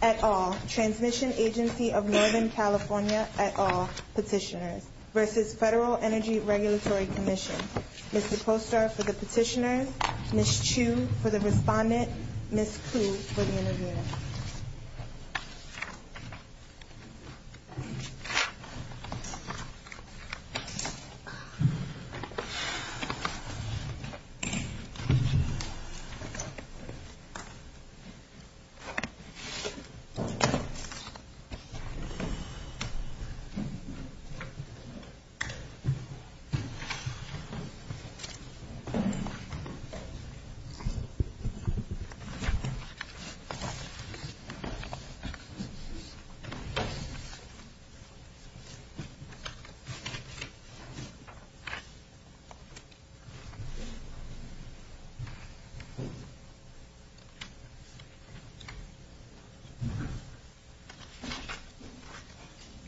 At all, Transmission Agency of Northern California, at all, Petitioners v. Federal Energy Regulatory Commission. Ms. DePoster for the Petitioners, Ms. Chu for the Respondent, Ms. Ku for the Intervener.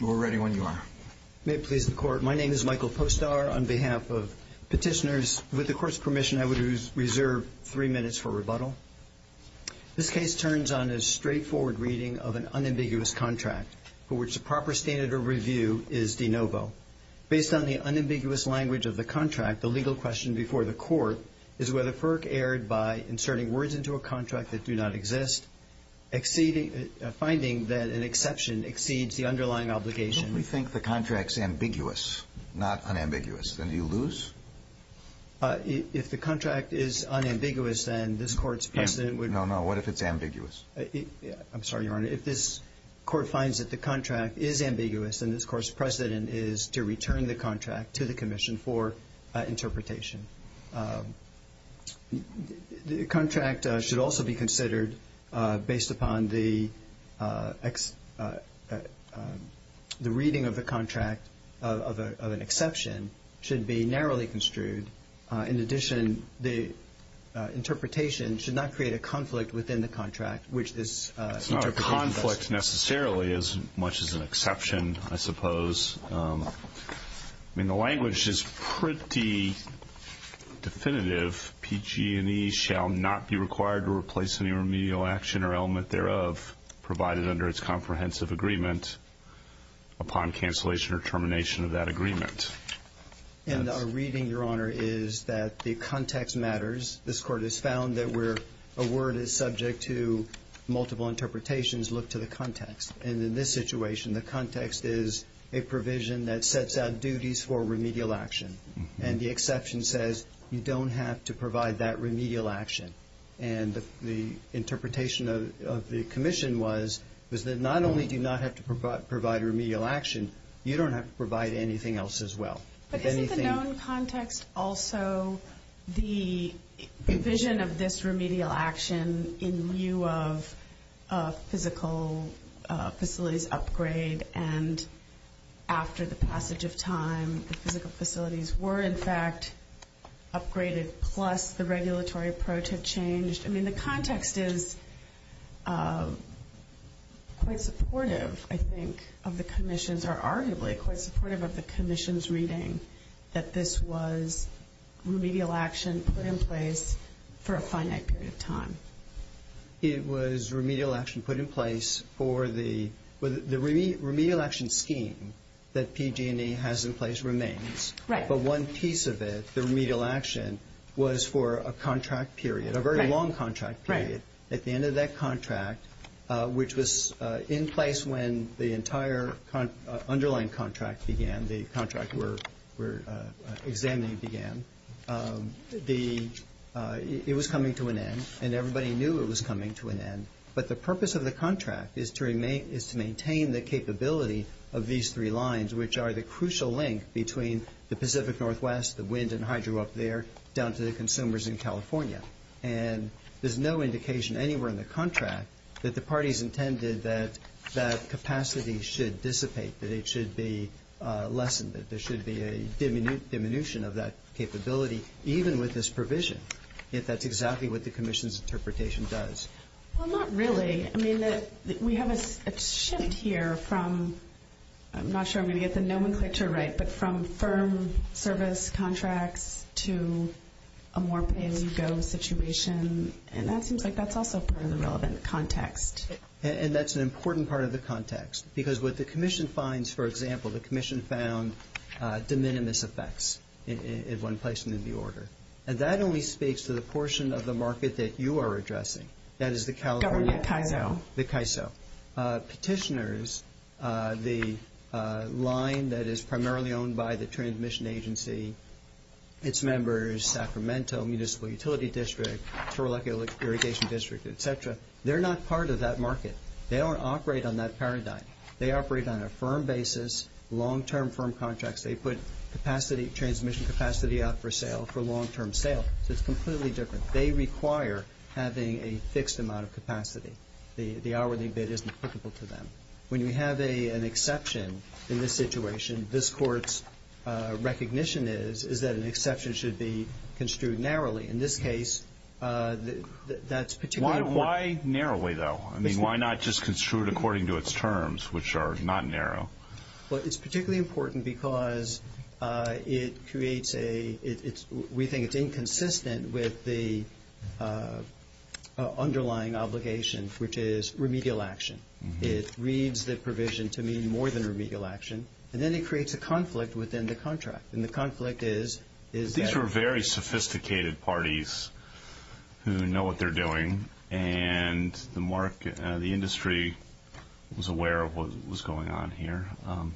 You are ready when you are. May it please the Court. My name is Michael Postar on behalf of Petitioners. With the Court's permission, I would reserve three minutes for rebuttal. This case turns on a straightforward reading of an unambiguous contract for which the proper standard of review is de novo. Based on the unambiguous language of the contract, the legal question before the Court is whether FERC erred by inserting words into a contract that do not exist, finding that an exception exceeds the underlying obligation. If we think the contract is ambiguous, not unambiguous, then do you lose? If the contract is unambiguous, then this Court's precedent would be No, no. What if it's ambiguous? I'm sorry, Your Honor. If this Court finds that the contract is ambiguous, then this Court's precedent is to return the contract to the Commission for interpretation. The contract should also be considered based upon the reading of the contract of an exception should be narrowly construed. In addition, the interpretation should not create a conflict within the contract which this interpretation does. It's not a conflict necessarily as much as an exception, I suppose. I mean, the language is pretty definitive, PG&E shall not be required to replace any remedial action or element thereof provided under its comprehensive agreement upon cancellation or termination of that agreement. And our reading, Your Honor, is that the context matters. This Court has found that where a word is subject to multiple interpretations, look to the context. And in this situation, the context is a provision that sets out duties for remedial action. And the exception says you don't have to provide that remedial action. And the interpretation of the Commission was that not only do you not have to provide remedial action, you don't have to provide anything else as well. But isn't the known context also the provision of this remedial action in view of physical facilities upgrade and after the passage of time, the physical facilities were in fact upgraded plus the regulatory approach had changed? I mean, the context is quite supportive, I think, of the Commission's or arguably quite supportive of the Commission's reading that this was remedial action put in place for a finite period of time. It was remedial action put in place for the remedial action scheme that PG&E has in place remains. Right. But one piece of it, the remedial action, was for a contract period. Right. A very long contract period. Right. At the end of that contract, which was in place when the entire underlying contract began, the contract we're examining began, it was coming to an end. And everybody knew it was coming to an end. But the purpose of the contract is to maintain the capability of these three lines, which are the crucial link between the Pacific Northwest, the wind and hydro up there, down to the consumers in California. And there's no indication anywhere in the contract that the parties intended that that capacity should dissipate, that it should be lessened, that there should be a diminution of that capability, even with this provision, if that's exactly what the Commission's interpretation does. Well, not really. I mean, we have a shift here from, I'm not sure I'm going to get the nomenclature right, but from firm service contracts to a more pay-as-you-go situation. And that seems like that's also part of the relevant context. And that's an important part of the context. Because what the Commission finds, for example, the Commission found de minimis effects in one place within the order. And that only speaks to the portion of the market that you are addressing. That is the California... Government CAISO. The CAISO. Petitioners, the line that is primarily owned by the Transmission Agency, its members, Sacramento Municipal Utility District, Toroleco Irrigation District, et cetera, they're not part of that market. They don't operate on that paradigm. They operate on a firm basis, long-term firm contracts. They put capacity, transmission capacity out for sale, for long-term sale. So it's completely different. They require having a fixed amount of capacity. The hourly bid isn't applicable to them. When you have an exception in this situation, this Court's recognition is, is that an exception should be construed narrowly. In this case, that's particularly important. Why narrowly, though? I mean, why not just construed according to its terms, which are not narrow? Well, it's particularly important because it creates a... which is remedial action. It reads the provision to mean more than remedial action, and then it creates a conflict within the contract. And the conflict is... These are very sophisticated parties who know what they're doing, and the industry was aware of what was going on here, and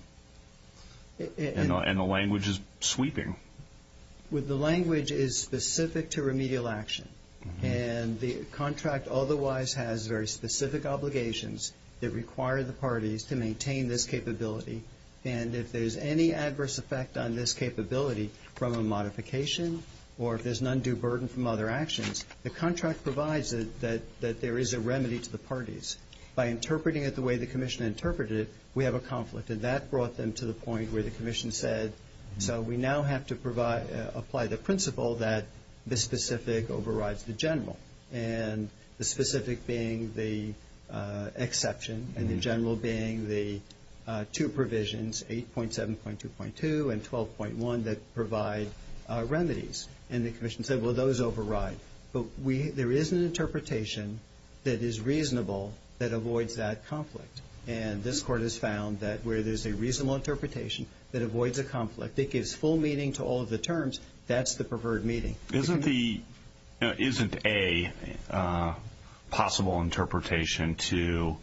the language is sweeping. Well, the language is specific to remedial action, and the contract otherwise has very specific obligations that require the parties to maintain this capability. And if there's any adverse effect on this capability from a modification or if there's an undue burden from other actions, the contract provides that there is a remedy to the parties. By interpreting it the way the Commission interpreted it, we have a conflict, and that have to apply the principle that the specific overrides the general, and the specific being the exception and the general being the two provisions, 8.7.2.2 and 12.1, that provide remedies. And the Commission said, well, those override. But there is an interpretation that is reasonable that avoids that conflict. And this Court has found that where there's a reasonable interpretation that avoids a meeting to all of the terms, that's the preferred meeting. Isn't the – isn't a possible interpretation to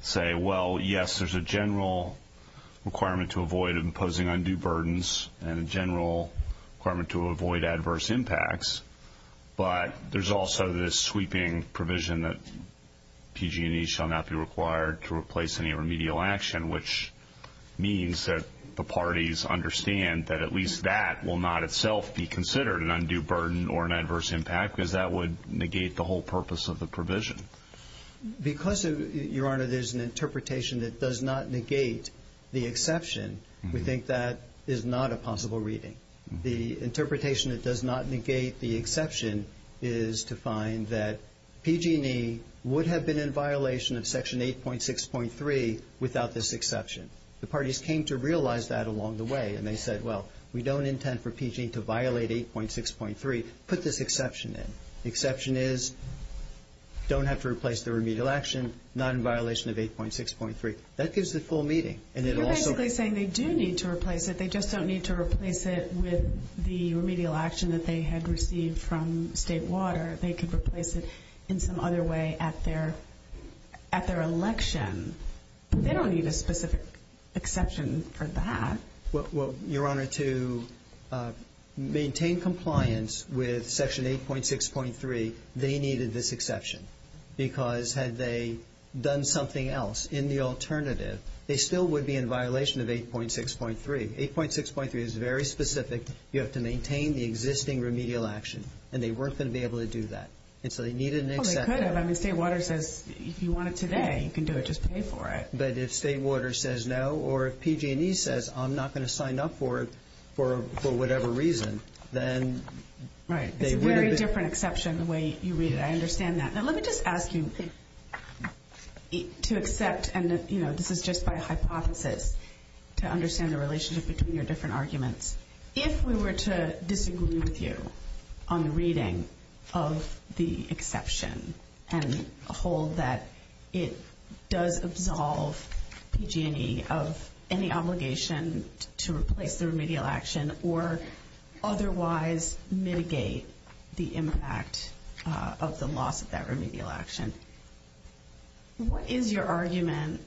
say, well, yes, there's a general requirement to avoid imposing undue burdens and a general requirement to avoid adverse impacts, but there's also this sweeping provision that PG&E shall not be required to replace any That will not itself be considered an undue burden or an adverse impact because that would negate the whole purpose of the provision. Because, Your Honor, there's an interpretation that does not negate the exception, we think that is not a possible reading. The interpretation that does not negate the exception is to find that PG&E would have been in violation of Section 8.6.3 without this exception. The parties came to realize that along the way, and they said, well, we don't intend for PG&E to violate 8.6.3. Put this exception in. The exception is don't have to replace the remedial action, not in violation of 8.6.3. That gives the full meeting. And it also – You're basically saying they do need to replace it. They just don't need to replace it with the remedial action that they had received from State Water. They could replace it in some other way at their – at their election. They don't need a specific exception for that. Well, Your Honor, to maintain compliance with Section 8.6.3, they needed this exception. Because had they done something else in the alternative, they still would be in violation of 8.6.3. 8.6.3 is very specific. You have to maintain the existing remedial action. And they weren't going to be able to do that. And so they needed an exception. Well, they could have. I mean, State Water says, if you want it today, you can do it. Just pay for it. But if State Water says no, or if PG&E says, I'm not going to sign up for it for – for whatever reason, then they would have been – Right. It's a very different exception the way you read it. I understand that. Now, let me just ask you to accept – and, you know, this is just by hypothesis – to understand the relationship between your different arguments. If we were to disagree with you on the reading of the exception and hold that it does absolve PG&E of any obligation to replace the remedial action or otherwise mitigate the impact of the loss of that remedial action, what is your argument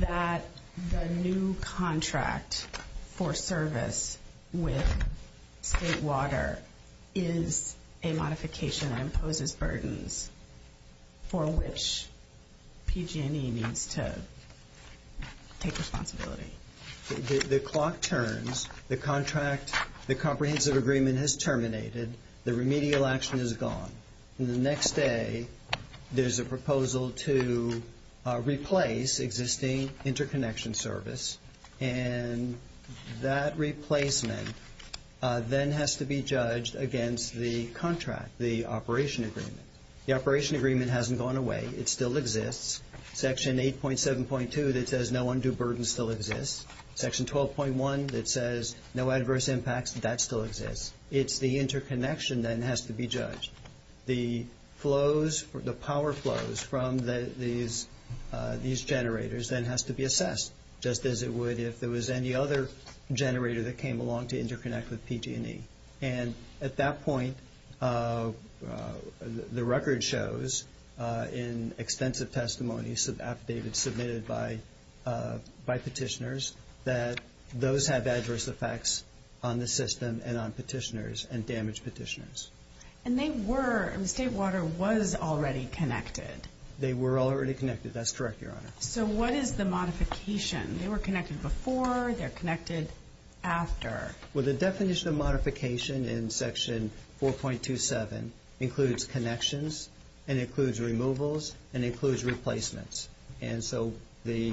that the new contract for service with State Water is a modification that imposes burdens for which PG&E needs to take responsibility? The clock turns, the contract – the comprehensive agreement has terminated, the remedial action is gone. And the next day, there's a proposal to replace existing interconnection service. And that replacement then has to be judged against the contract, the operation agreement. The operation agreement hasn't gone away. It still exists. Section 8.7.2 that says no undue burden still exists. Section 12.1 that says no adverse impacts, that still exists. It's the interconnection then has to be judged. The flows – the power flows from these generators then has to be assessed, just as it would if there was any other generator that came along to interconnect with PG&E. And at that point, the record shows in extensive testimony submitted by petitioners that those have adverse effects on the system and on petitioners and damaged petitioners. And they were – State Water was already connected. They were already connected. That's correct, Your Honor. So what is the modification? They were connected before, they're connected after. Well, the definition of modification in Section 4.27 includes connections and includes removals and includes replacements. And so the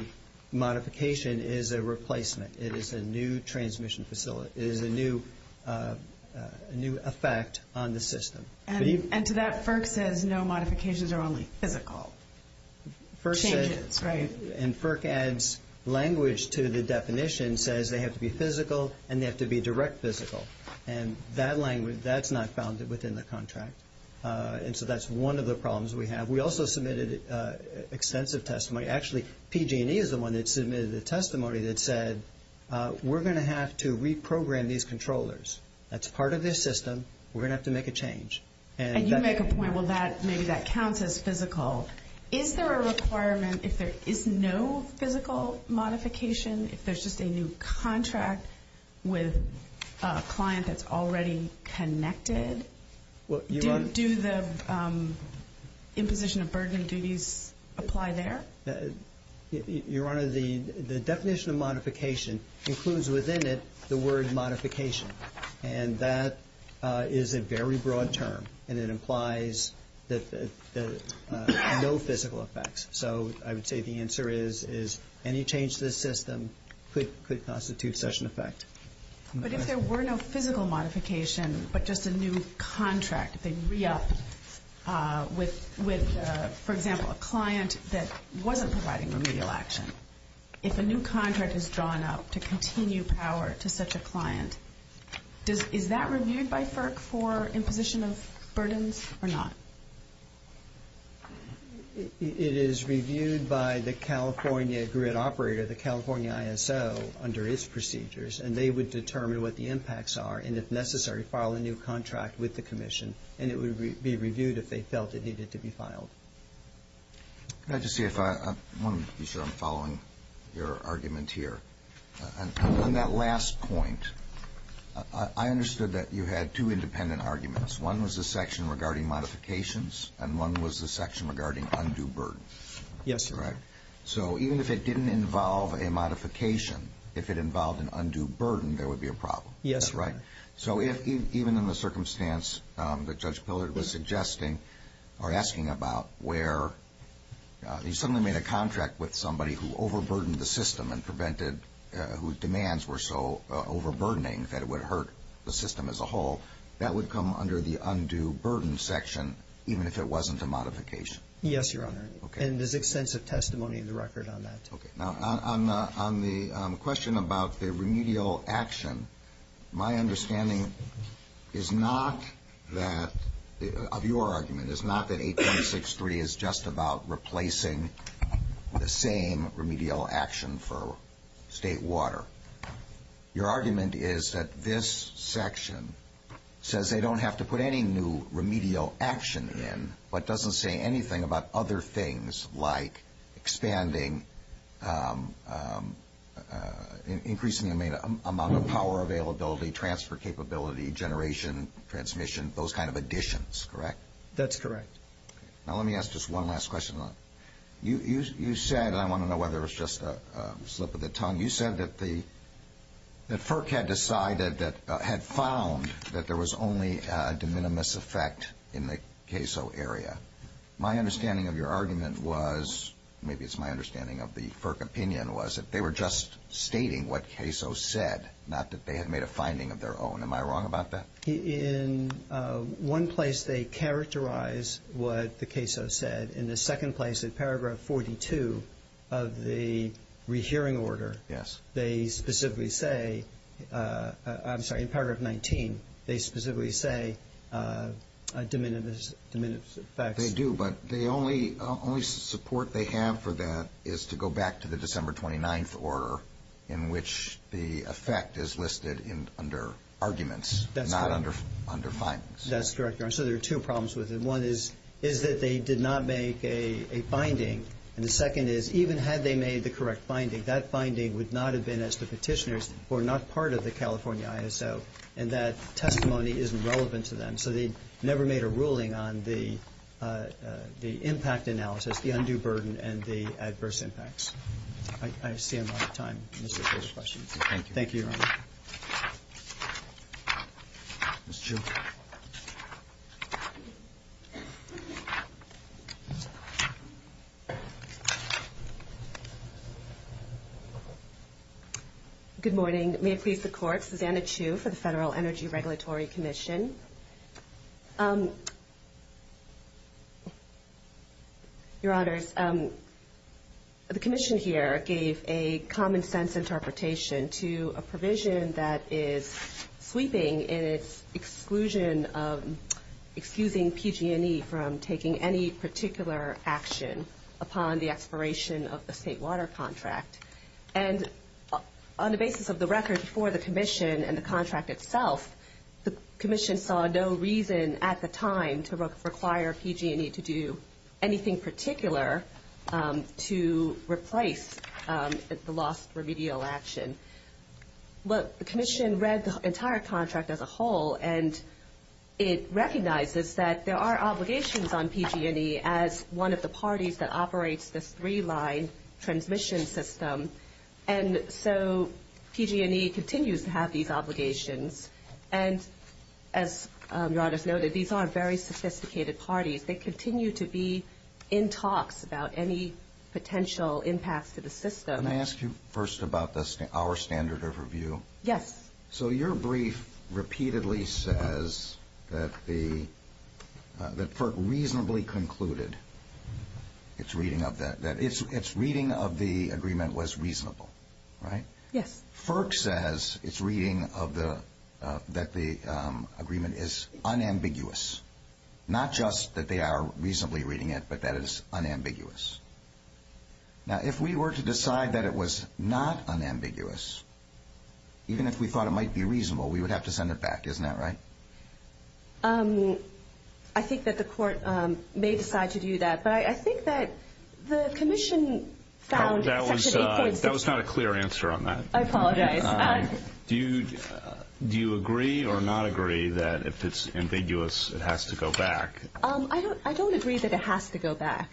modification is a replacement. It is a new transmission facility. It is a new effect on the system. And to that, FERC says no modifications are only physical changes, right? And FERC adds language to the definition, says they have to be physical and they have to be direct physical. And that language, that's not found within the contract. And so that's one of the problems we have. We also submitted extensive testimony. Actually, PG&E is the one that submitted the testimony that said, we're going to have to reprogram these controllers. That's part of this system. We're going to have to make a change. And you make a point, well, maybe that counts as physical. Is there a requirement if there is no physical modification, if there's just a new contract with a client that's already connected? Do the imposition of burden of duties apply there? Your Honor, the definition of modification includes within it the word modification. And that is a very broad term, and it implies no physical effects. So I would say the answer is any change to the system could constitute such an effect. But if there were no physical modification, but just a new contract, they'd re-up with, for example, a client that wasn't providing remedial action. If a new contract is drawn up to continue power to such a client, is that reviewed by FERC for imposition of burdens or not? It is reviewed by the California grid operator, the California ISO, under its procedures. And they would determine what the impacts are, and if necessary, file a new contract with the commission. And it would be reviewed if they felt it needed to be filed. Can I just see if I, I want to be sure I'm following your argument here. On that last point, I understood that you had two independent arguments. One was the section regarding modifications, and one was the section regarding undue burden. Yes, sir. Right? So even if it didn't involve a modification, if it involved an undue burden, there would be a problem. Yes, sir. Right? So if, even in the circumstance that Judge Pillard was suggesting, or asking about, where you suddenly made a contract with somebody who overburdened the system and prevented, whose demands were so overburdening that it would hurt the system as a whole, that would come under the undue burden section, even if it wasn't a modification? Yes, Your Honor. Okay. And there's extensive testimony in the record on that. Okay. Now, on the question about the remedial action, my understanding is not that, of your argument, is not that 8263 is just about replacing the same remedial action for state water. Your argument is that this section says they don't have to put any new remedial action in, but doesn't say anything about other things, like expanding, increasing the amount of power availability, transfer capability, generation, transmission, those kind of additions. Correct? That's correct. Okay. Now, let me ask just one last question. You said, and I want to know whether it was just a slip of the tongue, you said that FERC had decided that, had found that there was only a de minimis effect in the CAISO area. My understanding of your argument was, maybe it's my understanding of the FERC opinion, was that they were just stating what CAISO said, not that they had made a finding of their own. Am I wrong about that? In one place, they characterize what the CAISO said. In the second place, in paragraph 42 of the rehearing order, they specifically say, I'm sorry, in paragraph 19, they specifically say a de minimis effect. They do, but the only support they have for that is to go back to the December 29th order in which the effect is listed under arguments, not under findings. That's correct. So there are two problems with it. One is, is that they did not make a finding, and the second is, even had they made the correct finding, that finding would not have been as to petitioners who are not part of the California ISO, and that testimony isn't relevant to them. So they never made a ruling on the impact analysis, the undue burden, and the adverse impacts. I see I'm out of time. Thank you. Thank you, Your Honor. Ms. Chu. Good morning. May it please the Court, Susanna Chu for the Federal Energy Regulatory Commission. Your Honors, the Commission here gave a common-sense interpretation to a provision that is sweeping in its exclusion, excusing PG&E from taking any particular action upon the expiration of the state water contract, and on the basis of the record before the Commission and the Commission saw no reason at the time to require PG&E to do anything particular to replace the lost remedial action. Well, the Commission read the entire contract as a whole, and it recognizes that there are obligations on PG&E as one of the parties that operates this three-line transmission system, and so PG&E continues to have these obligations. And as Your Honors noted, these aren't very sophisticated parties. They continue to be in talks about any potential impacts to the system. Let me ask you first about our standard of review. Yes. So your brief repeatedly says that FERC reasonably concluded its reading of that, that its reading of the agreement was reasonable, right? Yes. FERC says its reading of the, that the agreement is unambiguous. Not just that they are reasonably reading it, but that it is unambiguous. Now, if we were to decide that it was not unambiguous, even if we thought it might be reasonable, we would have to send it back, isn't that right? I think that the Court may decide to do that, but I think that the Commission found That was not a clear answer on that. I apologize. Do you agree or not agree that if it's ambiguous, it has to go back? I don't agree that it has to go back,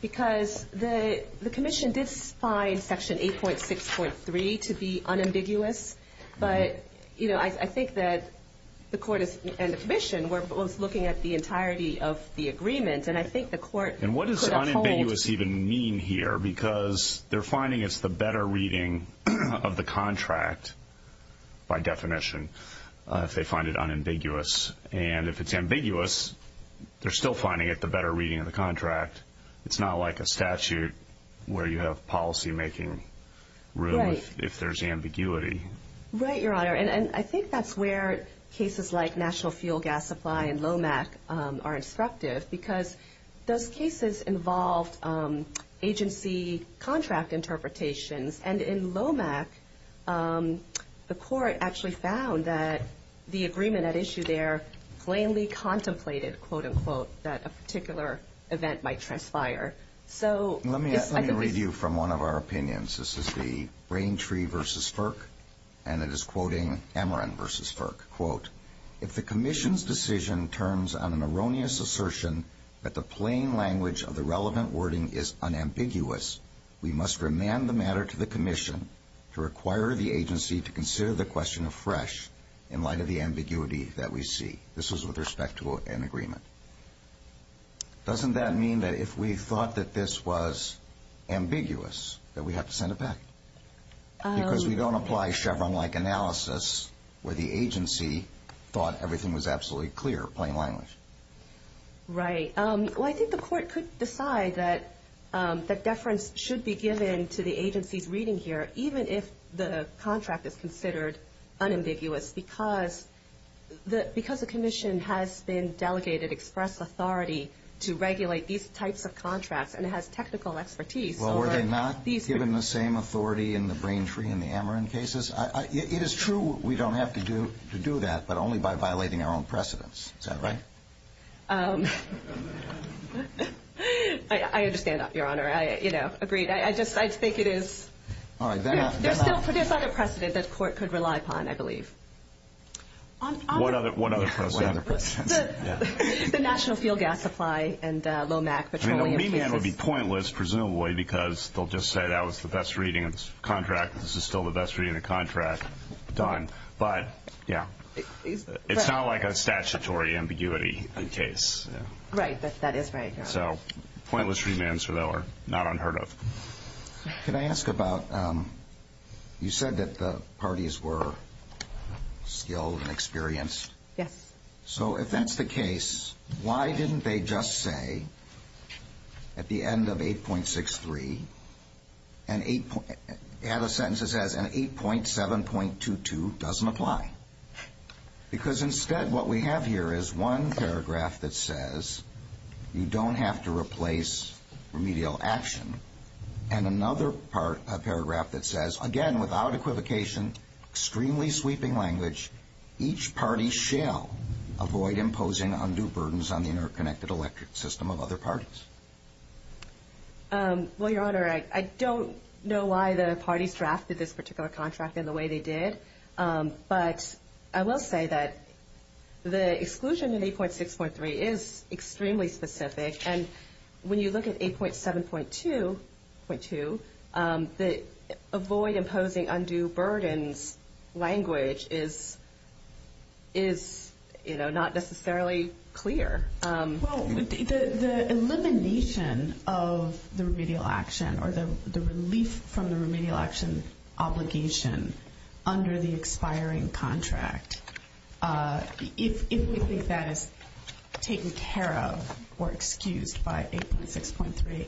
because the Commission did find section 8.6.3 to be unambiguous, but I think that the Court and the Commission were both looking at the entirety of the agreement, and I think the Court could uphold What does ambiguous even mean here? Because they're finding it's the better reading of the contract, by definition, if they find it unambiguous. And if it's ambiguous, they're still finding it the better reading of the contract. It's not like a statute where you have policymaking room if there's ambiguity. Right, Your Honor. And I think that's where cases like National Fuel Gas Supply and LOMAC are instructive, because those cases involved agency contract interpretations, and in LOMAC, the Court actually found that the agreement at issue there plainly contemplated, quote-unquote, that a particular event might transpire. Let me read you from one of our opinions. This is the Braintree v. Ferk, and it is quoting Amaran v. Ferk, quote, If the Commission's decision turns on an erroneous assertion that the plain language of the relevant wording is unambiguous, we must remand the matter to the Commission to require the agency to consider the question afresh in light of the ambiguity that we see. This is with respect to an agreement. Doesn't that mean that if we thought that this was ambiguous, that we have to send it back? Because we don't apply Chevron-like analysis where the agency thought everything was absolutely clear, plain language. Right. Well, I think the Court could decide that deference should be given to the agency's reading here, even if the contract is considered unambiguous, because the Commission has been delegated express authority to regulate these types of contracts, and it has technical expertise. Well, were they not given the same authority in the Braintree and the Amaran cases? It is true we don't have to do that, but only by violating our own precedents. Is that right? I understand, Your Honor. I agree. I just think it is... There's still a precedent that the Court could rely upon, I believe. What other precedent? The National Fuel Gas Supply and Lomac Petroleum. It would be pointless, presumably, because they'll just say that was the best reading of the contract, and this is still the best reading of the contract. Done. But, yeah, it's not like a statutory ambiguity case. Right, that is right, Your Honor. So pointless remands, though, are not unheard of. Can I ask about... You said that the parties were skilled and experienced. Yes. So if that's the case, why didn't they just say, at the end of 8.63, add a sentence that says, and 8.7.22 doesn't apply? Because instead what we have here is one paragraph that says you don't have to replace remedial action and another paragraph that says, again, without equivocation, extremely sweeping language, each party shall avoid imposing undue burdens on the interconnected electric system of other parties. Well, Your Honor, I don't know why the parties drafted this particular contract in the way they did, but I will say that the exclusion in 8.6.3 is extremely specific, and when you look at 8.7.2.2, the avoid imposing undue burdens language is, you know, not necessarily clear. Well, the elimination of the remedial action or the relief from the remedial action obligation under the expiring contract, if we think that is taken care of or excused by 8.6.3,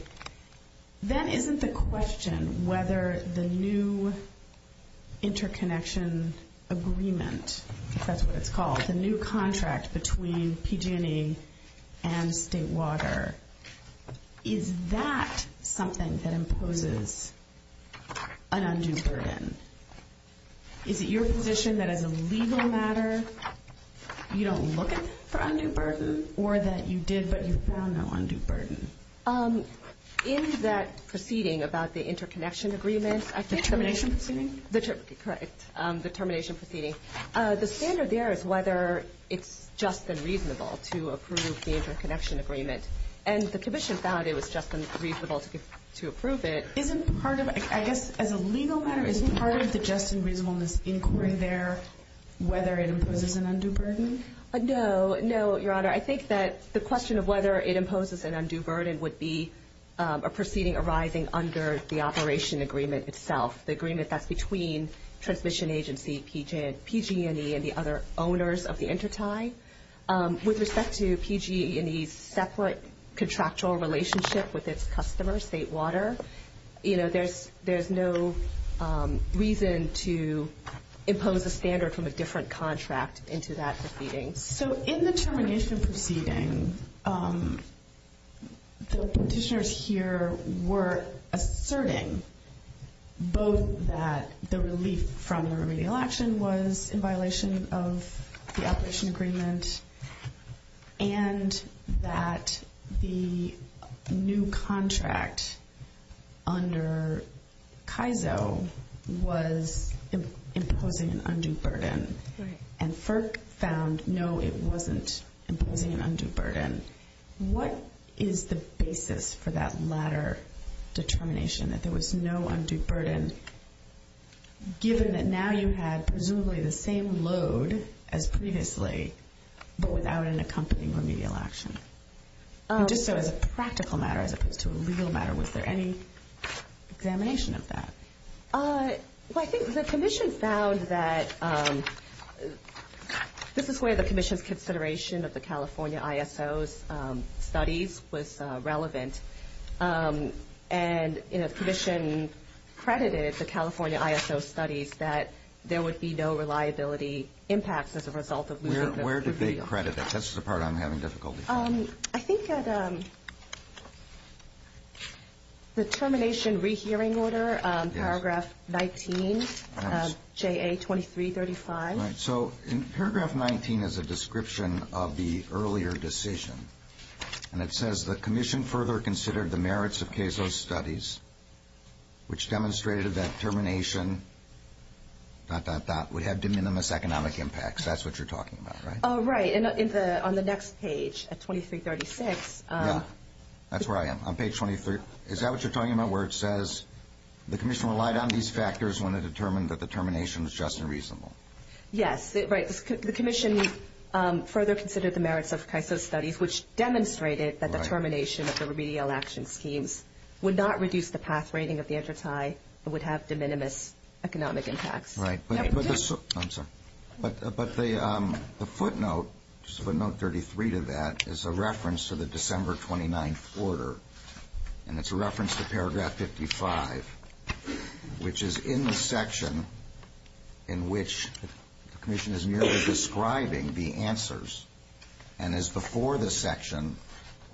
then isn't the question whether the new interconnection agreement, if that's what it's called, the new contract between PG&E and State Water, is that something that imposes an undue burden? Is it your position that as a legal matter you don't look for undue burden or that you did but you found no undue burden? In that proceeding about the interconnection agreement... The termination proceeding? Correct, the termination proceeding. The standard there is whether it's just and reasonable to approve the interconnection agreement, and the Commission found it was just and reasonable to approve it. Isn't part of, I guess, as a legal matter, isn't part of the just and reasonableness inquiry there whether it imposes an undue burden? No, no, Your Honor. I think that the question of whether it imposes an undue burden would be a proceeding arising under the operation agreement itself, the agreement that's between transmission agency PG&E and the other owners of the intertie. With respect to PG&E's separate contractual relationship with its customers, State Water, there's no reason to impose a standard from a different contract into that proceeding. So in the termination proceeding, the petitioners here were asserting both that the relief from the remedial action was in violation of the operation agreement and that the new contract under KAISO was imposing an undue burden. And FERC found, no, it wasn't imposing an undue burden. What is the basis for that latter determination that there was no undue burden given that now you had, presumably, the same load as previously but without an accompanying remedial action? Just so as a practical matter as opposed to a legal matter, was there any examination of that? Well, I think the Commission found that... This is where the Commission's consideration of the California ISO's studies was relevant. And, you know, the Commission credited the California ISO studies that there would be no reliability impacts as a result of losing the remedial action. Where did they credit that? That's the part I'm having difficulty finding. I think at the termination rehearing order, paragraph 19, J.A. 2335. So in paragraph 19 is a description of the earlier decision. And it says, the Commission further considered the merits of KAISO's studies which demonstrated that termination dot dot dot would have de minimis economic impacts. That's what you're talking about, right? Oh, right. And on the next page at 2336... Yeah, that's where I am. On page 23... Is that what you're talking about where it says, the Commission relied on these factors when it determined that the termination was just and reasonable? Yes, right. The Commission further considered the merits of KAISO's studies which demonstrated that the termination of the remedial action schemes would not reduce the path rating of the intertie but would have de minimis economic impacts. Right. I'm sorry. But the footnote, footnote 33 to that is a reference to the December 29th order. And it's a reference to paragraph 55 which is in the section in which the Commission is merely describing the answers and is before the section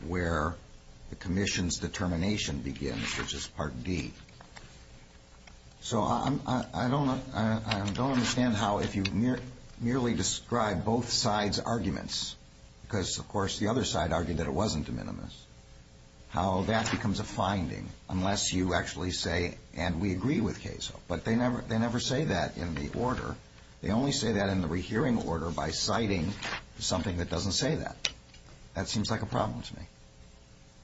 where the Commission's determination begins which is part D. So I don't understand how if you merely describe both sides' arguments because, of course, the other side argued that it wasn't de minimis, how that becomes a finding unless you actually say and we agree with KAISO. But they never say that in the order. They only say that in the rehearing order by citing something that doesn't say that. That seems like a problem to me.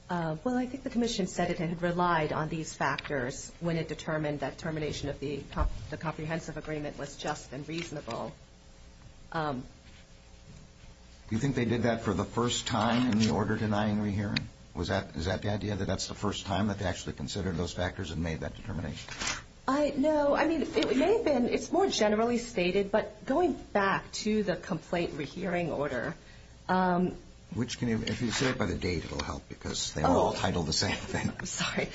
Well, I think the Commission said it had relied on these factors when it determined that termination of the comprehensive agreement was just and reasonable. Do you think they did that for the first time in the order denying rehearing? Is that the idea that that's the first time that they actually considered those factors and made that determination? No, I mean, it may have been it's more generally stated but going back to the complaint rehearing order If you say it by the date it will help because they all title the same thing. Sorry.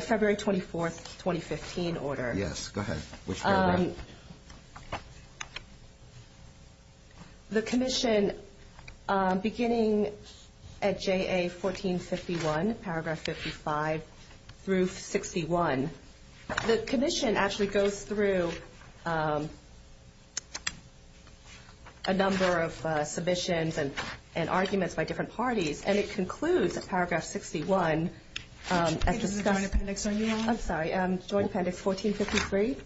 February 24, 2015 order. Yes, go ahead. Which paragraph? The Commission beginning at J.A. 1451 paragraph 55 through 61 the Commission actually goes through a number of submissions and arguments by different parties and it concludes at paragraph 61 I'm sorry Joint Appendix 1453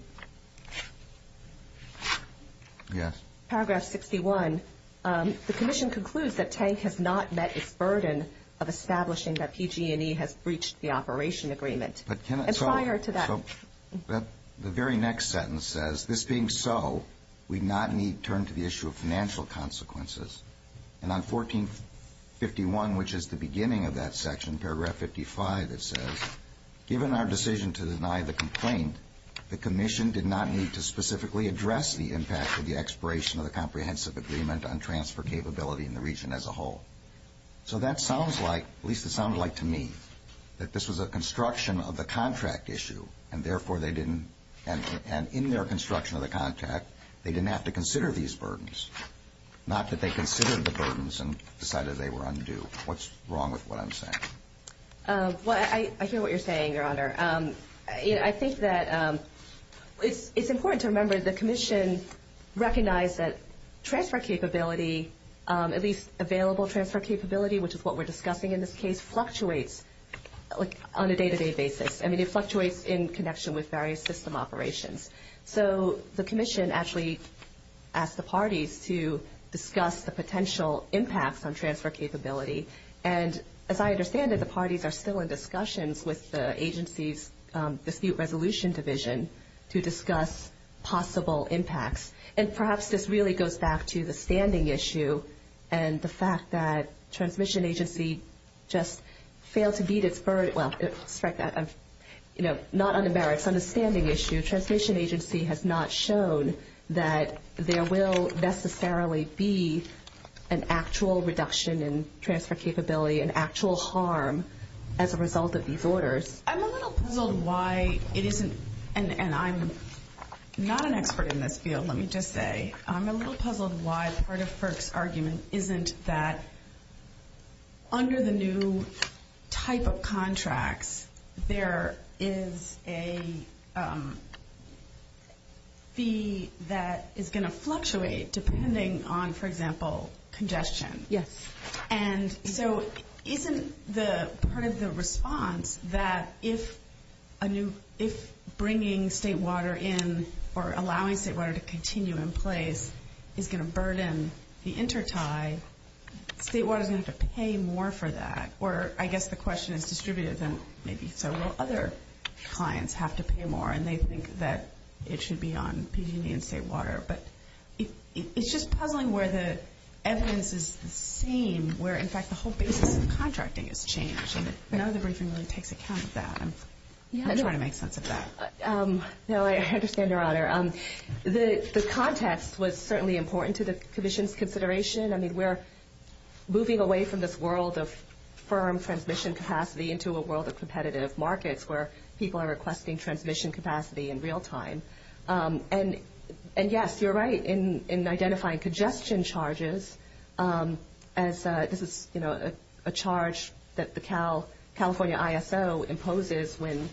Yes Paragraph 61 The Commission concludes that Tank has not met its burden of establishing that PG&E has breached the operation agreement and prior to that The very next sentence says this being so we not need turn to the issue of financial consequences and on 1451 which is the beginning of that section paragraph 55 it says given our decision to deny the complaint the Commission did not need to specifically address the impact of the expiration of the comprehensive agreement on transfer capability in the region as a whole so that sounds like at least it sounds like to me that this was a construction of the contract issue and therefore they didn't and in their construction of the contract they didn't have to consider these burdens not that they considered the burdens and decided they were undue what's wrong with what I'm saying Well I hear what you're saying your honor I think that it's important to remember the Commission recognized that transfer capability at least available transfer capability which is what we're discussing in this case fluctuates on a day to day basis I mean it fluctuates in connection with various system operations so the Commission actually asked the parties to discuss the potential impacts on transfer capability and as I understand that the parties are still in discussions with the agencies dispute resolution division to discuss possible impacts and perhaps this really goes back to the standing issue and the fact that transmission agency just failed to beat its burden well not on the merits on the standing issue transmission agency has not shown that there will necessarily be an actual reduction in transfer capability an actual harm as a result of these orders I'm a little puzzled why it isn't and I'm not an expert in this field let me just say I'm a little puzzled why part of FERC's argument isn't that under the new type of contracts there is a fee that is going to fluctuate depending on for example congestion yes and so isn't the part of the response that if a new if a new contract in or allowing state water to continue in place is going to burden the intertie state water is going to have to pay more for that or I guess the question is distributed so will other clients have to pay more and they think that it should be on PG&E and state water but it's just puzzling where the evidence is the same where in fact the whole basis of contracting has changed I know the briefing really takes account of that I'm trying to make sense of that I understand your honor the context was certainly important to the commission's consideration I mean we're moving away from this world of firm transmission capacity into a world of competitive markets where people are requesting transmission capacity in real time and yes you're right in identifying congestion charges as this is a charge that the California ISO imposes when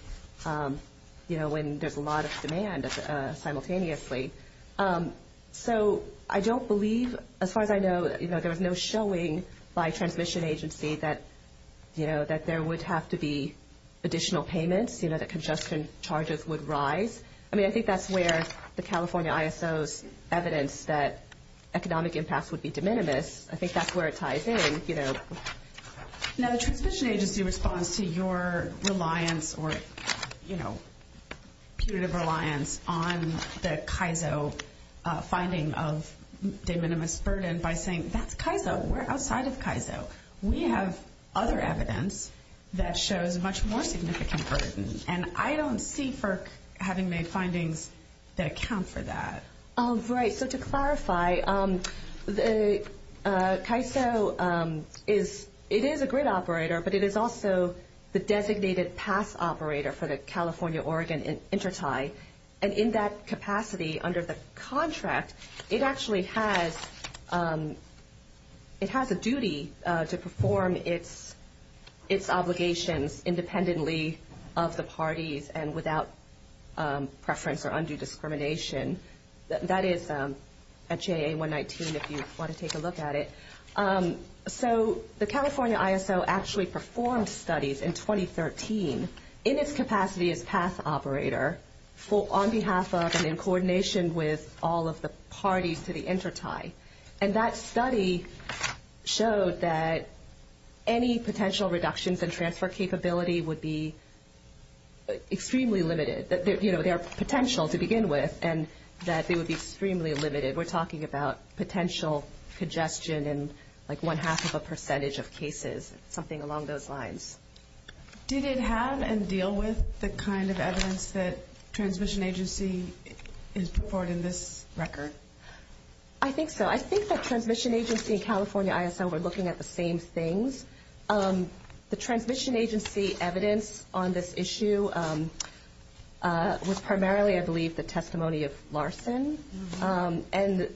there's a lot of demand simultaneously so I don't believe as far as I know there was no showing by a transmission agency that there would have to be additional payments that congestion charges would rise I think that's where the California ISO's evidence that economic impacts would be de minimis I think that's where it ties in you know now the transmission agency responds to your reliance or you know punitive reliance on the CAISO finding of de minimis burden by saying that's CAISO we're outside of CAISO we have other evidence that shows much more significant burden and I don't see FERC having made findings that account for that right so to clarify the CAISO is it is a grid operator but it is also the designated pass operator for the California-Oregon intertie and in that capacity under the contract it actually has it has a duty to perform its obligations independently of the parties and without preference or undue discrimination that is at JA119 if you want to take a look at it so the California ISO actually performed studies in 2013 in its capacity as pass operator on behalf of and in coordination with all of the parties to the intertie and that study showed that any would have more potential to begin with and that they would be extremely limited we're talking about potential congestion and like one half of a percentage of cases something along those lines did it have and deal with the kind of evidence that transmission agency is reported in this record I think so I think that transmission agency and California ISO were looking at the same things the transmission agency evidence on this issue was primarily I believe the testimony of Larson and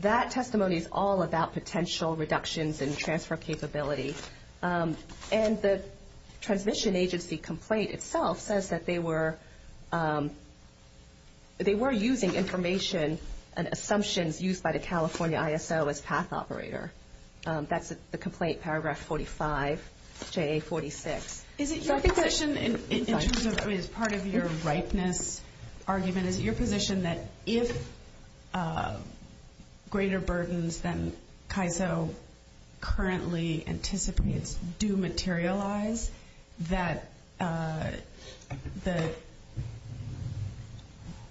that testimony is all about potential reductions and transfer capability and the transmission agency complaint itself says that they were they were using information and assumptions used by the California ISO as path operator that's the complaint paragraph 45 JA46 is it your position in terms of part of your ripeness argument is it your position that if greater burdens than CAISO currently anticipates do materialize that the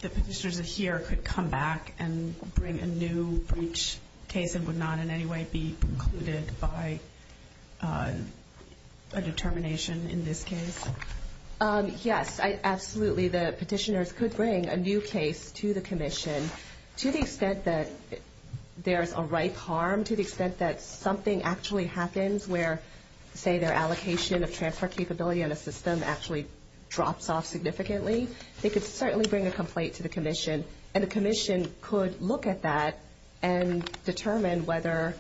the petitioners here could come back and bring a new breach case and would not in any way be precluded by a determination in this case yes absolutely the petitioners could bring a new case to the commission to the extent that there's a ripe harm to the extent that something actually happens where say their allocation of transfer capability in a system actually drops off significantly they could certainly bring a complaint to the commission and the commission could look at that and determine whether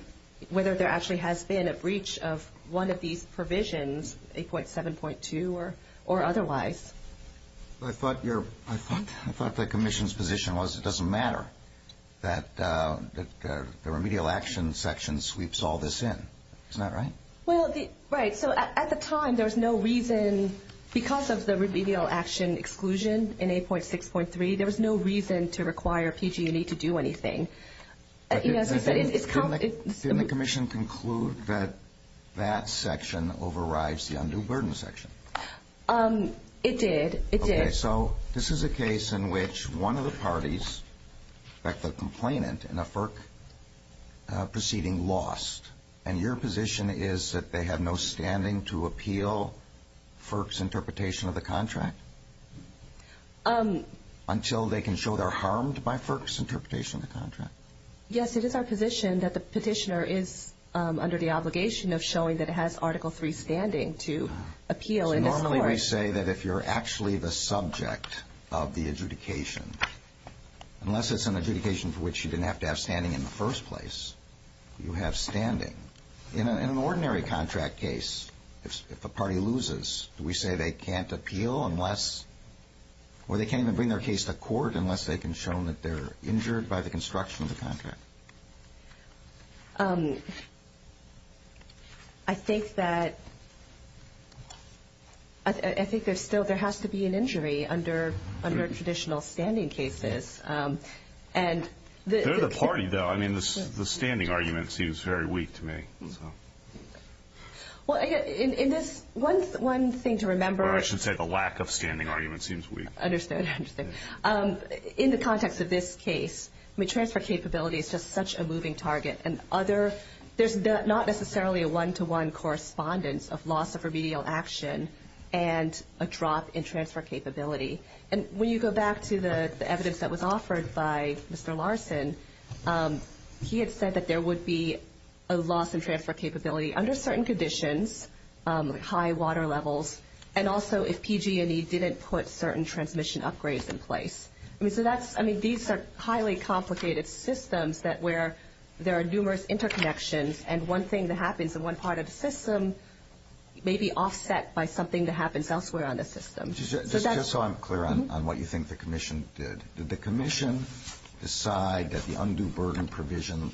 whether there actually has been a breach of one of these provisions 8.7.2 or otherwise I thought your I thought the commission's position was it doesn't matter that the remedial action section sweeps all this in isn't that right well at the time there was no reason because of the remedial action exclusion in 8.6.3 there was no reason to require PG&E to do anything didn't the commission conclude that that section overrides the undue burden section it did it did so this is a case in which one of the parties the complainant in a FERC proceeding lost and your position is that they have no standing to appeal FERC's interpretation of the contract until they can show they're harmed by FERC's interpretation of the contract yes it is our position that the petitioner is under the obligation of showing that it has article 3 standing to appeal so normally we say that if you're actually the subject of the adjudication unless it's an adjudication for which you didn't have to have standing in the first place you have standing in an ordinary contract case if a party loses do we say they can't appeal unless or they can't even bring their case to court unless they can show that they're injured by the construction of the contract I think that I think there's still there has to be an injury under traditional standing cases and they're the party though I mean the standing argument seems very weak to me well in this one thing to remember I should say the lack of standing argument seems weak understood in the context of this case transfer capability is just such a moving target and other there's not necessarily a one-to-one correspondence of loss of transfer capability and when you go back to the evidence that was offered by Mr. Larson he had said that there would be a loss in transfer capability under certain conditions high water levels and also if PG&E didn't put certain transmission upgrades in place I mean these are highly complicated systems that where there are so I'm clear on what you think the commission did did the commission decide that the undue burden provision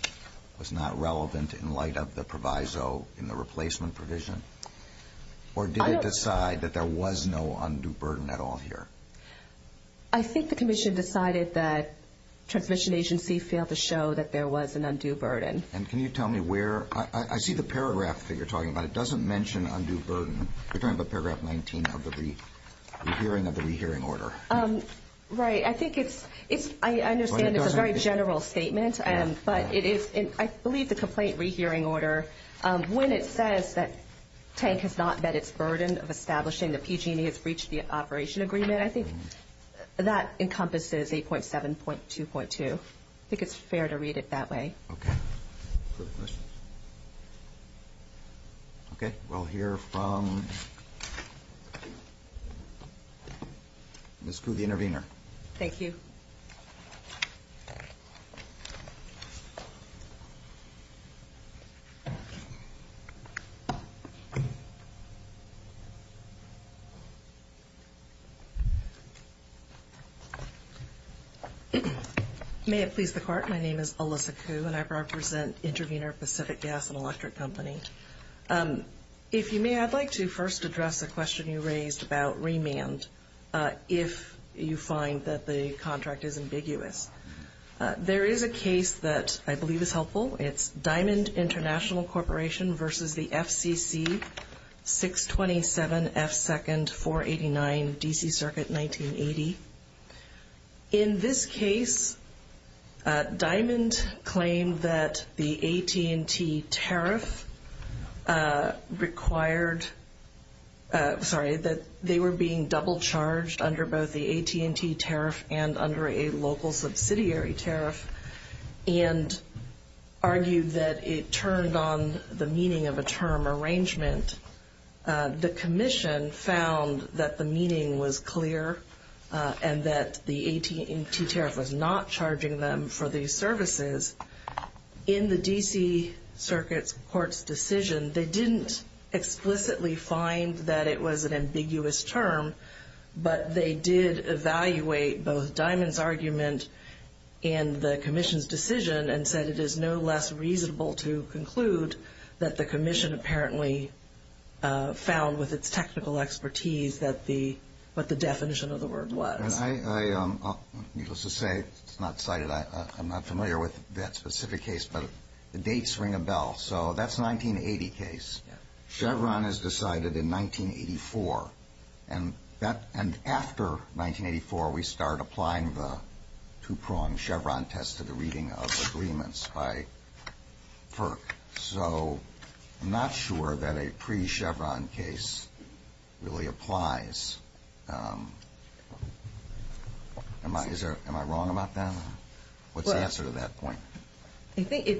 was not relevant in light of the proviso in the replacement provision or did it decide that there was no undue burden at all here I think the commission decided that the transmission agency failed to show that there was an undue burden and can you tell me where I see the paragraph that you're talking about it doesn't mention undue burden you're talking about paragraph 19 of the re-hearing order right I think it's I understand it's a very general statement but it is I believe the complaint re-hearing order when it says that tank has not met its burden of establishing the PG&E has reached the operation agreement I think that encompasses 8.7.2.2 I think it's fair to read it that way okay we'll hear from Ms. Gu the next speaker come forward Ms. Gu. Ms. Gu. Ms. Gu. Ms. Gu. Ms. Gu. Ms. Gu. Ms. Gu. Ms. Gu. Ms.. Ms. Gu. Ms. Gu. Ms. Gu. Ms. Gu. Dr. Dr. Gu. Dr. Gu. Dr. Gu. Ms. Gu. Ms. Gu. Ms. Gu. Ms. Gu. Dr.. Ms. Gu. Dr. Gu. Ms. Gu. Dr. Gu. Ms. Gu. Ms. Gu. Dr. Gu. Ms. Gu. Ms. Gu. Dr. Gu. Dr. Why? Is there am I wrong about that? What's the answer to that point? I think it's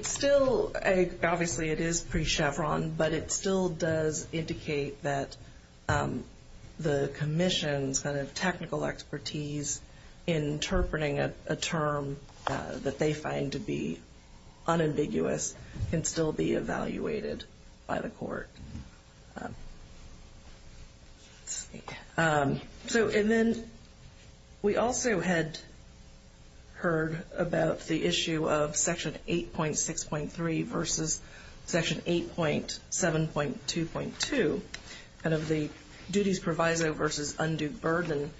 still a. Obviously it is pre chevron but it still does indicate that the commission's kind of technical expertise interpreting a term that they find to be unambiguous and still be evaluated by the court. So and then we also had heard about the issue of section 8.6.3 versus section 8.7.2.2 kind of the duties proviso versus undue burden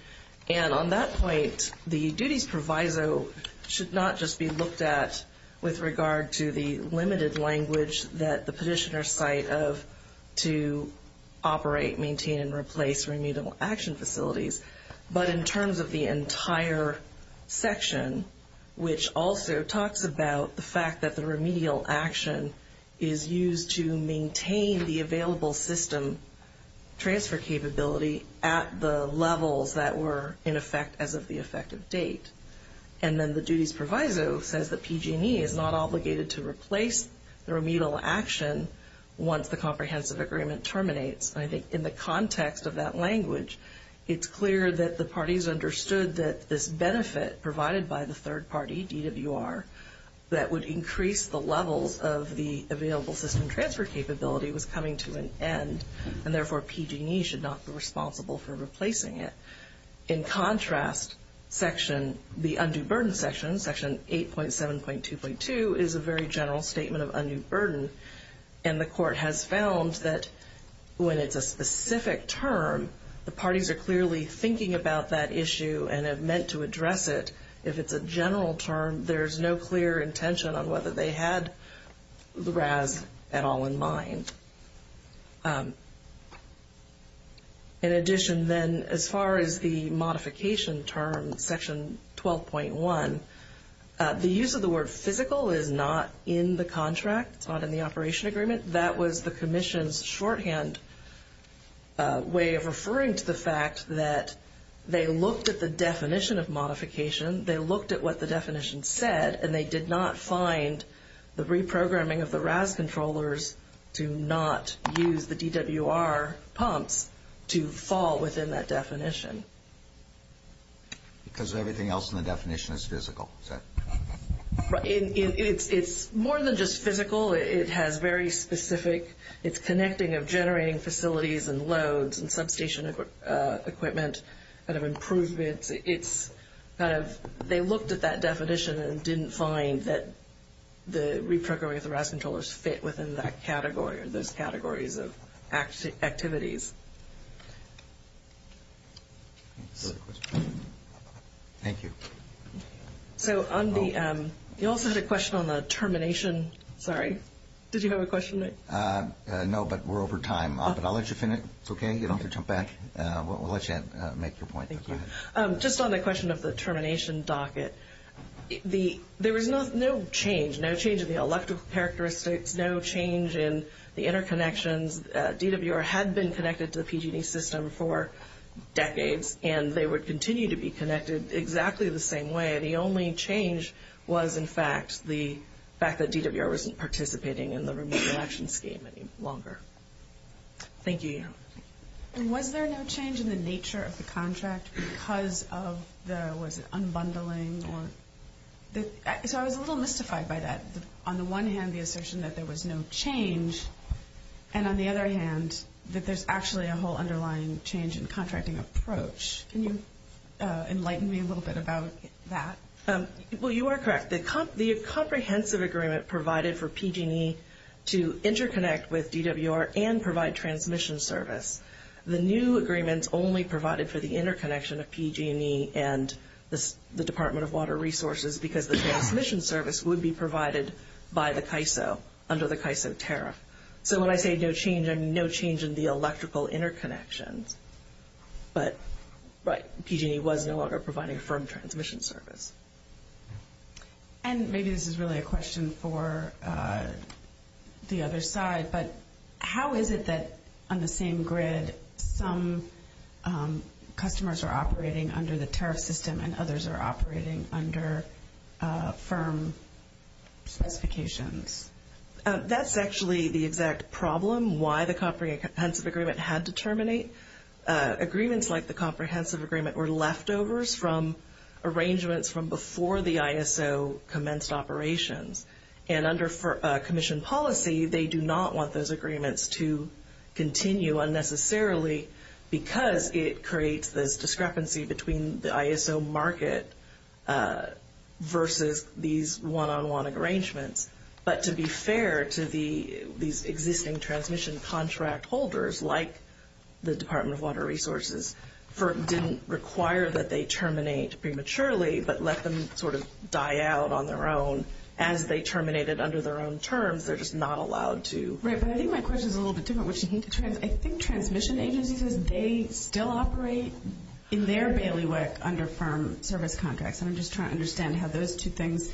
and on that point the duties proviso should not just be looked at with regard to the limited language that the petitioner's site of to operate maintain and replace remedial action facilities but in terms of the entire section which also talks about the fact that the remedial action is used to maintain the available system transfer capability at the levels that were in effect as of the effective date and then the duties proviso says that PG&E is not obligated to replace the remedial action once the comprehensive agreement terminates. I think in the context of that language it's clear that the parties understood that this benefit provided by the third party DWR that would increase the levels of the available system transfer capability was coming to an end and therefore PG&E should not be responsible for replacing it. In contrast section the undue burden section, section 8.7.2.2 is a very general statement of undue burden and the court has found that when it's a specific term the parties are clearly thinking about that issue and have meant to address it if it's a general term there's no clear intention on whether they had the RAS at all in mind. In addition then as far as the modification term section 12.1 the use of the word physical is not in the contract it's not in the operation agreement that was the commission's shorthand way of referring to the fact that they looked at the definition of modification they looked at what the definition said and they did not find the reprogramming of the RAS controllers to not use the DWR pumps to fall within that definition. Because everything else in the definition is physical. It's more than just physical it has very specific it's connecting of generating facilities and loads and substation equipment kind of improvements it's kind of they looked at that definition and didn't find that the reprogramming of the RAS controllers fit within that category or those categories of activities. Thank you. So on the you also had a question on the termination sorry did you have a question Nick? No but we're over time but I'll let you finish it's okay you don't have to jump back we'll let you make your point. Just on the question of the termination docket there was no change no change in the electrical characteristics no change in the interconnections DWR had been connected to the PG&E system for decades and they would continue to be connected exactly the same way the only change was in fact the fact that DWR wasn't participating in the removal action scheme any longer. Thank you. And was there no change in the nature of the contract because of the was it unbundling or so I was a little mystified by that on the one hand the assertion that there was no change and on the other hand that there's actually a whole underlying change in contracting approach. Can you enlighten me a little bit about that? Well you are correct the comprehensive agreement provided for PG&E to interconnect with DWR and provide transmission service the new agreements only provided for the interconnection of PG&E and the Department of Water Resources because the transmission service would be provided by the CAISO under the CAISO tariff so when I say no change I mean no change in the electrical interconnections but PG&E was no longer providing a firm transmission service. And maybe this is really a question for the other side but how is it that on the same grid some customers are operating under the tariff system and others are operating under firm specifications? That's actually the exact problem why the comprehensive agreement had to terminate agreements like the comprehensive agreement were leftovers from arrangements from before the ISO commenced operations and under commission policy they do not want those agreements to continue unnecessarily because it creates this discrepancy between the ISO market versus these one-on-one arrangements but to be fair to these existing transmission contract holders like the Department of Water Resources didn't require that they terminate prematurely but let them sort of die out on their own as they terminated under their own terms they're just not allowed to. Right but I think my question is a little bit different which is I think transmission agencies they still operate in their bailiwick under firm service contracts and I'm just trying to understand how those two things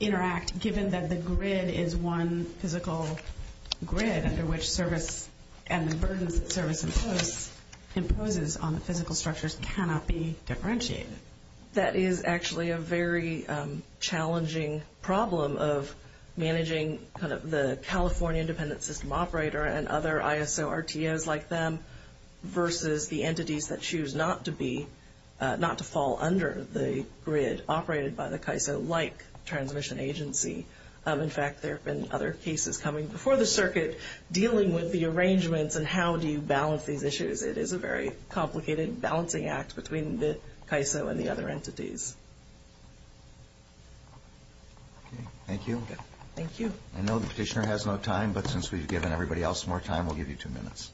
interact given that the grid is one physical grid under which service and the burdens that service imposes on the physical structures cannot be differentiated. That is actually a very challenging problem of managing kind of the California independent system operator and other ISO RTOs like them versus the entities that choose not to be not to fall under the grid operated by the CAISO like transmission agency in fact there have been other cases coming before the circuit dealing with the arrangements and how do you balance these issues it is a very complicated balancing act between the CAISO and the other entities. Thank you. Thank you. I know the petitioner has no time but since we've given everybody else more time we'll give you two minutes.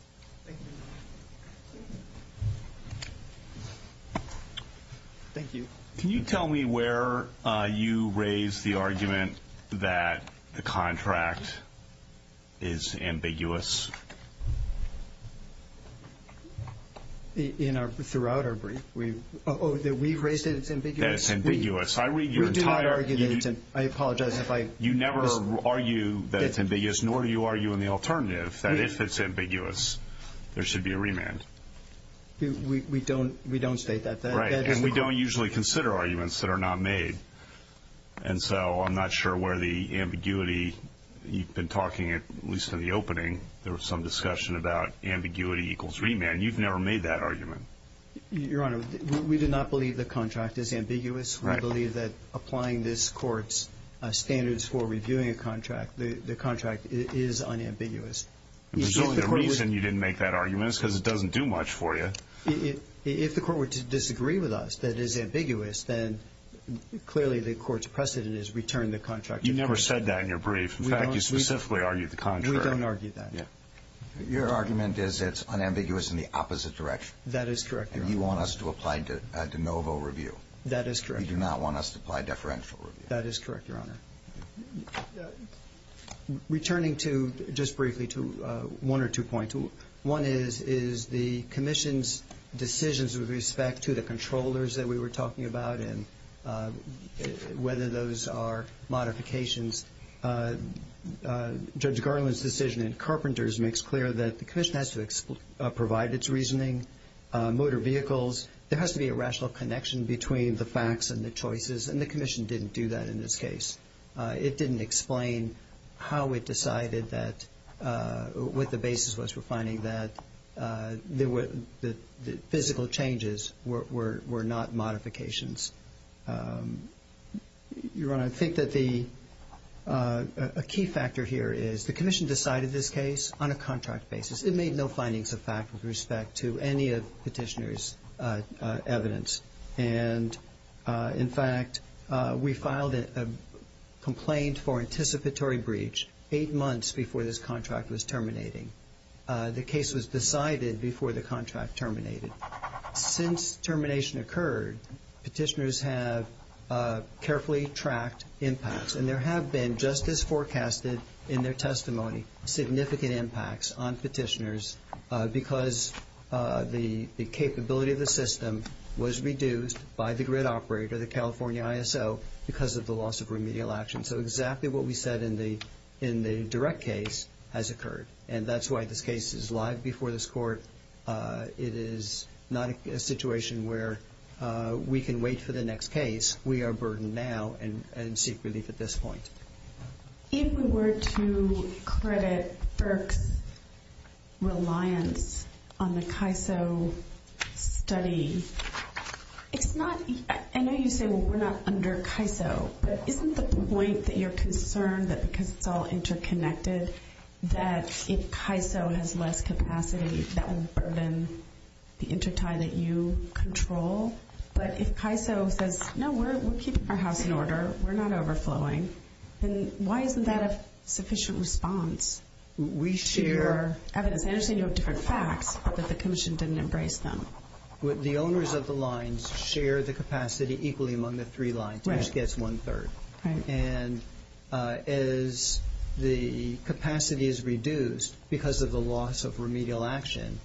Thank you. Can you tell me where you raise the argument that the contract is ambiguous? In our throughout our brief we oh that we've raised it it's ambiguous. It's ambiguous. I read your entire I apologize if I you never argue that it's ambiguous nor do you argue in the alternative that if it's ambiguous there should be a remand. We don't we don't state that. We don't usually consider arguments that are not made and so I'm not sure where the ambiguity you've been talking at least in the opening there was some discussion about ambiguity equals remand. You've never made that argument. Your Honor we did not believe the contract is ambiguous. I believe that applying this court's standards for reviewing a contract the contract is unambiguous. The reason you didn't make that argument is because it doesn't do much for you. If the court were to disagree with us that is ambiguous then clearly the court's precedent is return the contract. You never said that in your brief. In fact you specifically argued the contract. We don't argue that. Your argument is it's unambiguous in the opposite direction. That is correct. And you want us to apply de novo review. That is correct. You do not want us to apply deferential review. That is correct Your Honor. Returning to just briefly to one or two points. One is the Commission's decisions with respect to the controllers that we were talking about and whether those are modifications. Judge Garland's decision in Carpenters makes clear that the Commission has to provide its reasoning motor vehicles. There has to be a rational connection between the facts and the choices and the Commission didn't do that in this case. It didn't explain how it decided that what the basis was for finding that the physical changes were not modifications. Your Honor, I think that a key factor here is the Commission decided this case on a contract basis. It made no findings of fact with respect to any of Petitioner's evidence. And in fact, we filed a complaint for anticipatory breach eight months before this contract was terminating. The case was decided before the contract terminated. Since termination occurred, Petitioner's have carefully tracked impacts and there have been just as forecasted in their testimony, significant impacts on Petitioner's because the capability of the system was reduced by the grid operator, the California ISO, because of the loss of remedial action. So exactly what we said in the direct case has occurred. And that's why this case is live before this Court. It is not a situation where we can wait for the next case. We are burdened now and seek relief at this point. If we were to credit Burke's reliance on the CAISO study, it's not, I know you say we're not under CAISO, but isn't the point that you're concerned that because it's all interconnected that if CAISO has less capacity, that will burden the intertie that you control? But if CAISO says, no, we're keeping our house in order, we're not overflowing, then why isn't that a sufficient response to your evidence? I understand you have different facts, but the Commission didn't embrace them. The owners of the lines share the capacity equally among the three lines, each gets one third. Right. And as the capacity is reduced because of the loss of remedial action,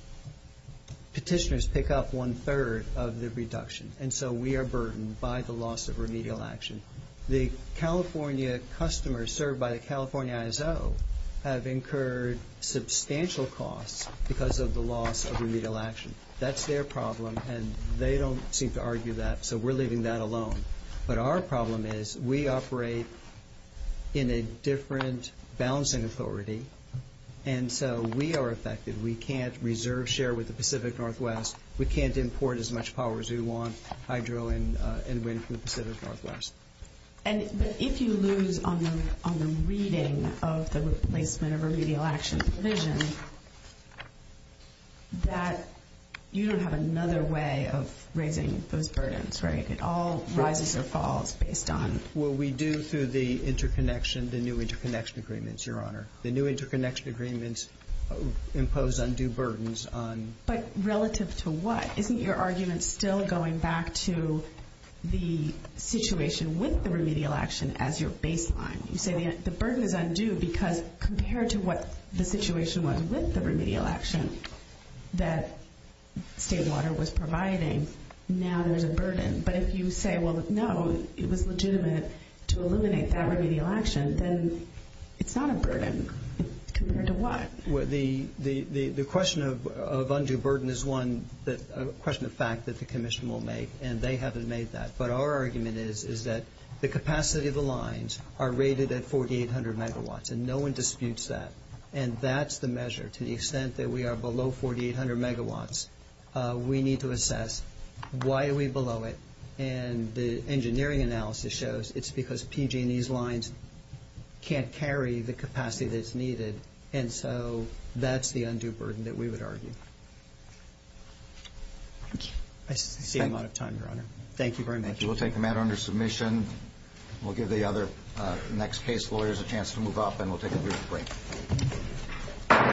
Petitioner's take up one third of the reduction. And so we are burdened by the loss of remedial action. The California customers served by the California ISO have incurred substantial costs because of the loss of remedial action. That's their problem, and they don't seem to argue that, so we're leaving that alone. But our problem is we operate in a different balancing authority, and so we are affected. We can't reserve share with the Pacific Northwest. We can't import as much power as we want, hydro and wind from the Pacific Northwest. And if you lose on the reading of the replacement of remedial action provision, you don't have another way of raising those burdens, right? It all rises or falls based on- Well, we do through the interconnection, the new interconnection agreements, Your Honor. The new interconnection agreements impose undue burdens on- But relative to what? Isn't your argument still going back to the situation with the remedial action as your baseline? You say the burden is undue because compared to what the situation was with the remedial action that State Water was providing, now there's a burden. But if you say, well, no, it was legitimate to eliminate that remedial action, then it's not a burden. Compared to what? Well, the question of undue burden is one that- a question of fact that the Commission will make, and they haven't made that. But our argument is that the capacity of the lines are rated at 4,800 megawatts, and no one disputes that. And that's the measure. To the extent that we are below 4,800 megawatts, we need to assess why are we below it. And the engineering analysis shows it's because PG&E's lines can't carry the capacity that's needed. And so that's the undue burden that we would argue. I see I'm out of time, Your Honor. Thank you very much. Thank you. We'll take the matter under submission. We'll give the other next case lawyers a chance to move up, and we'll take a brief break.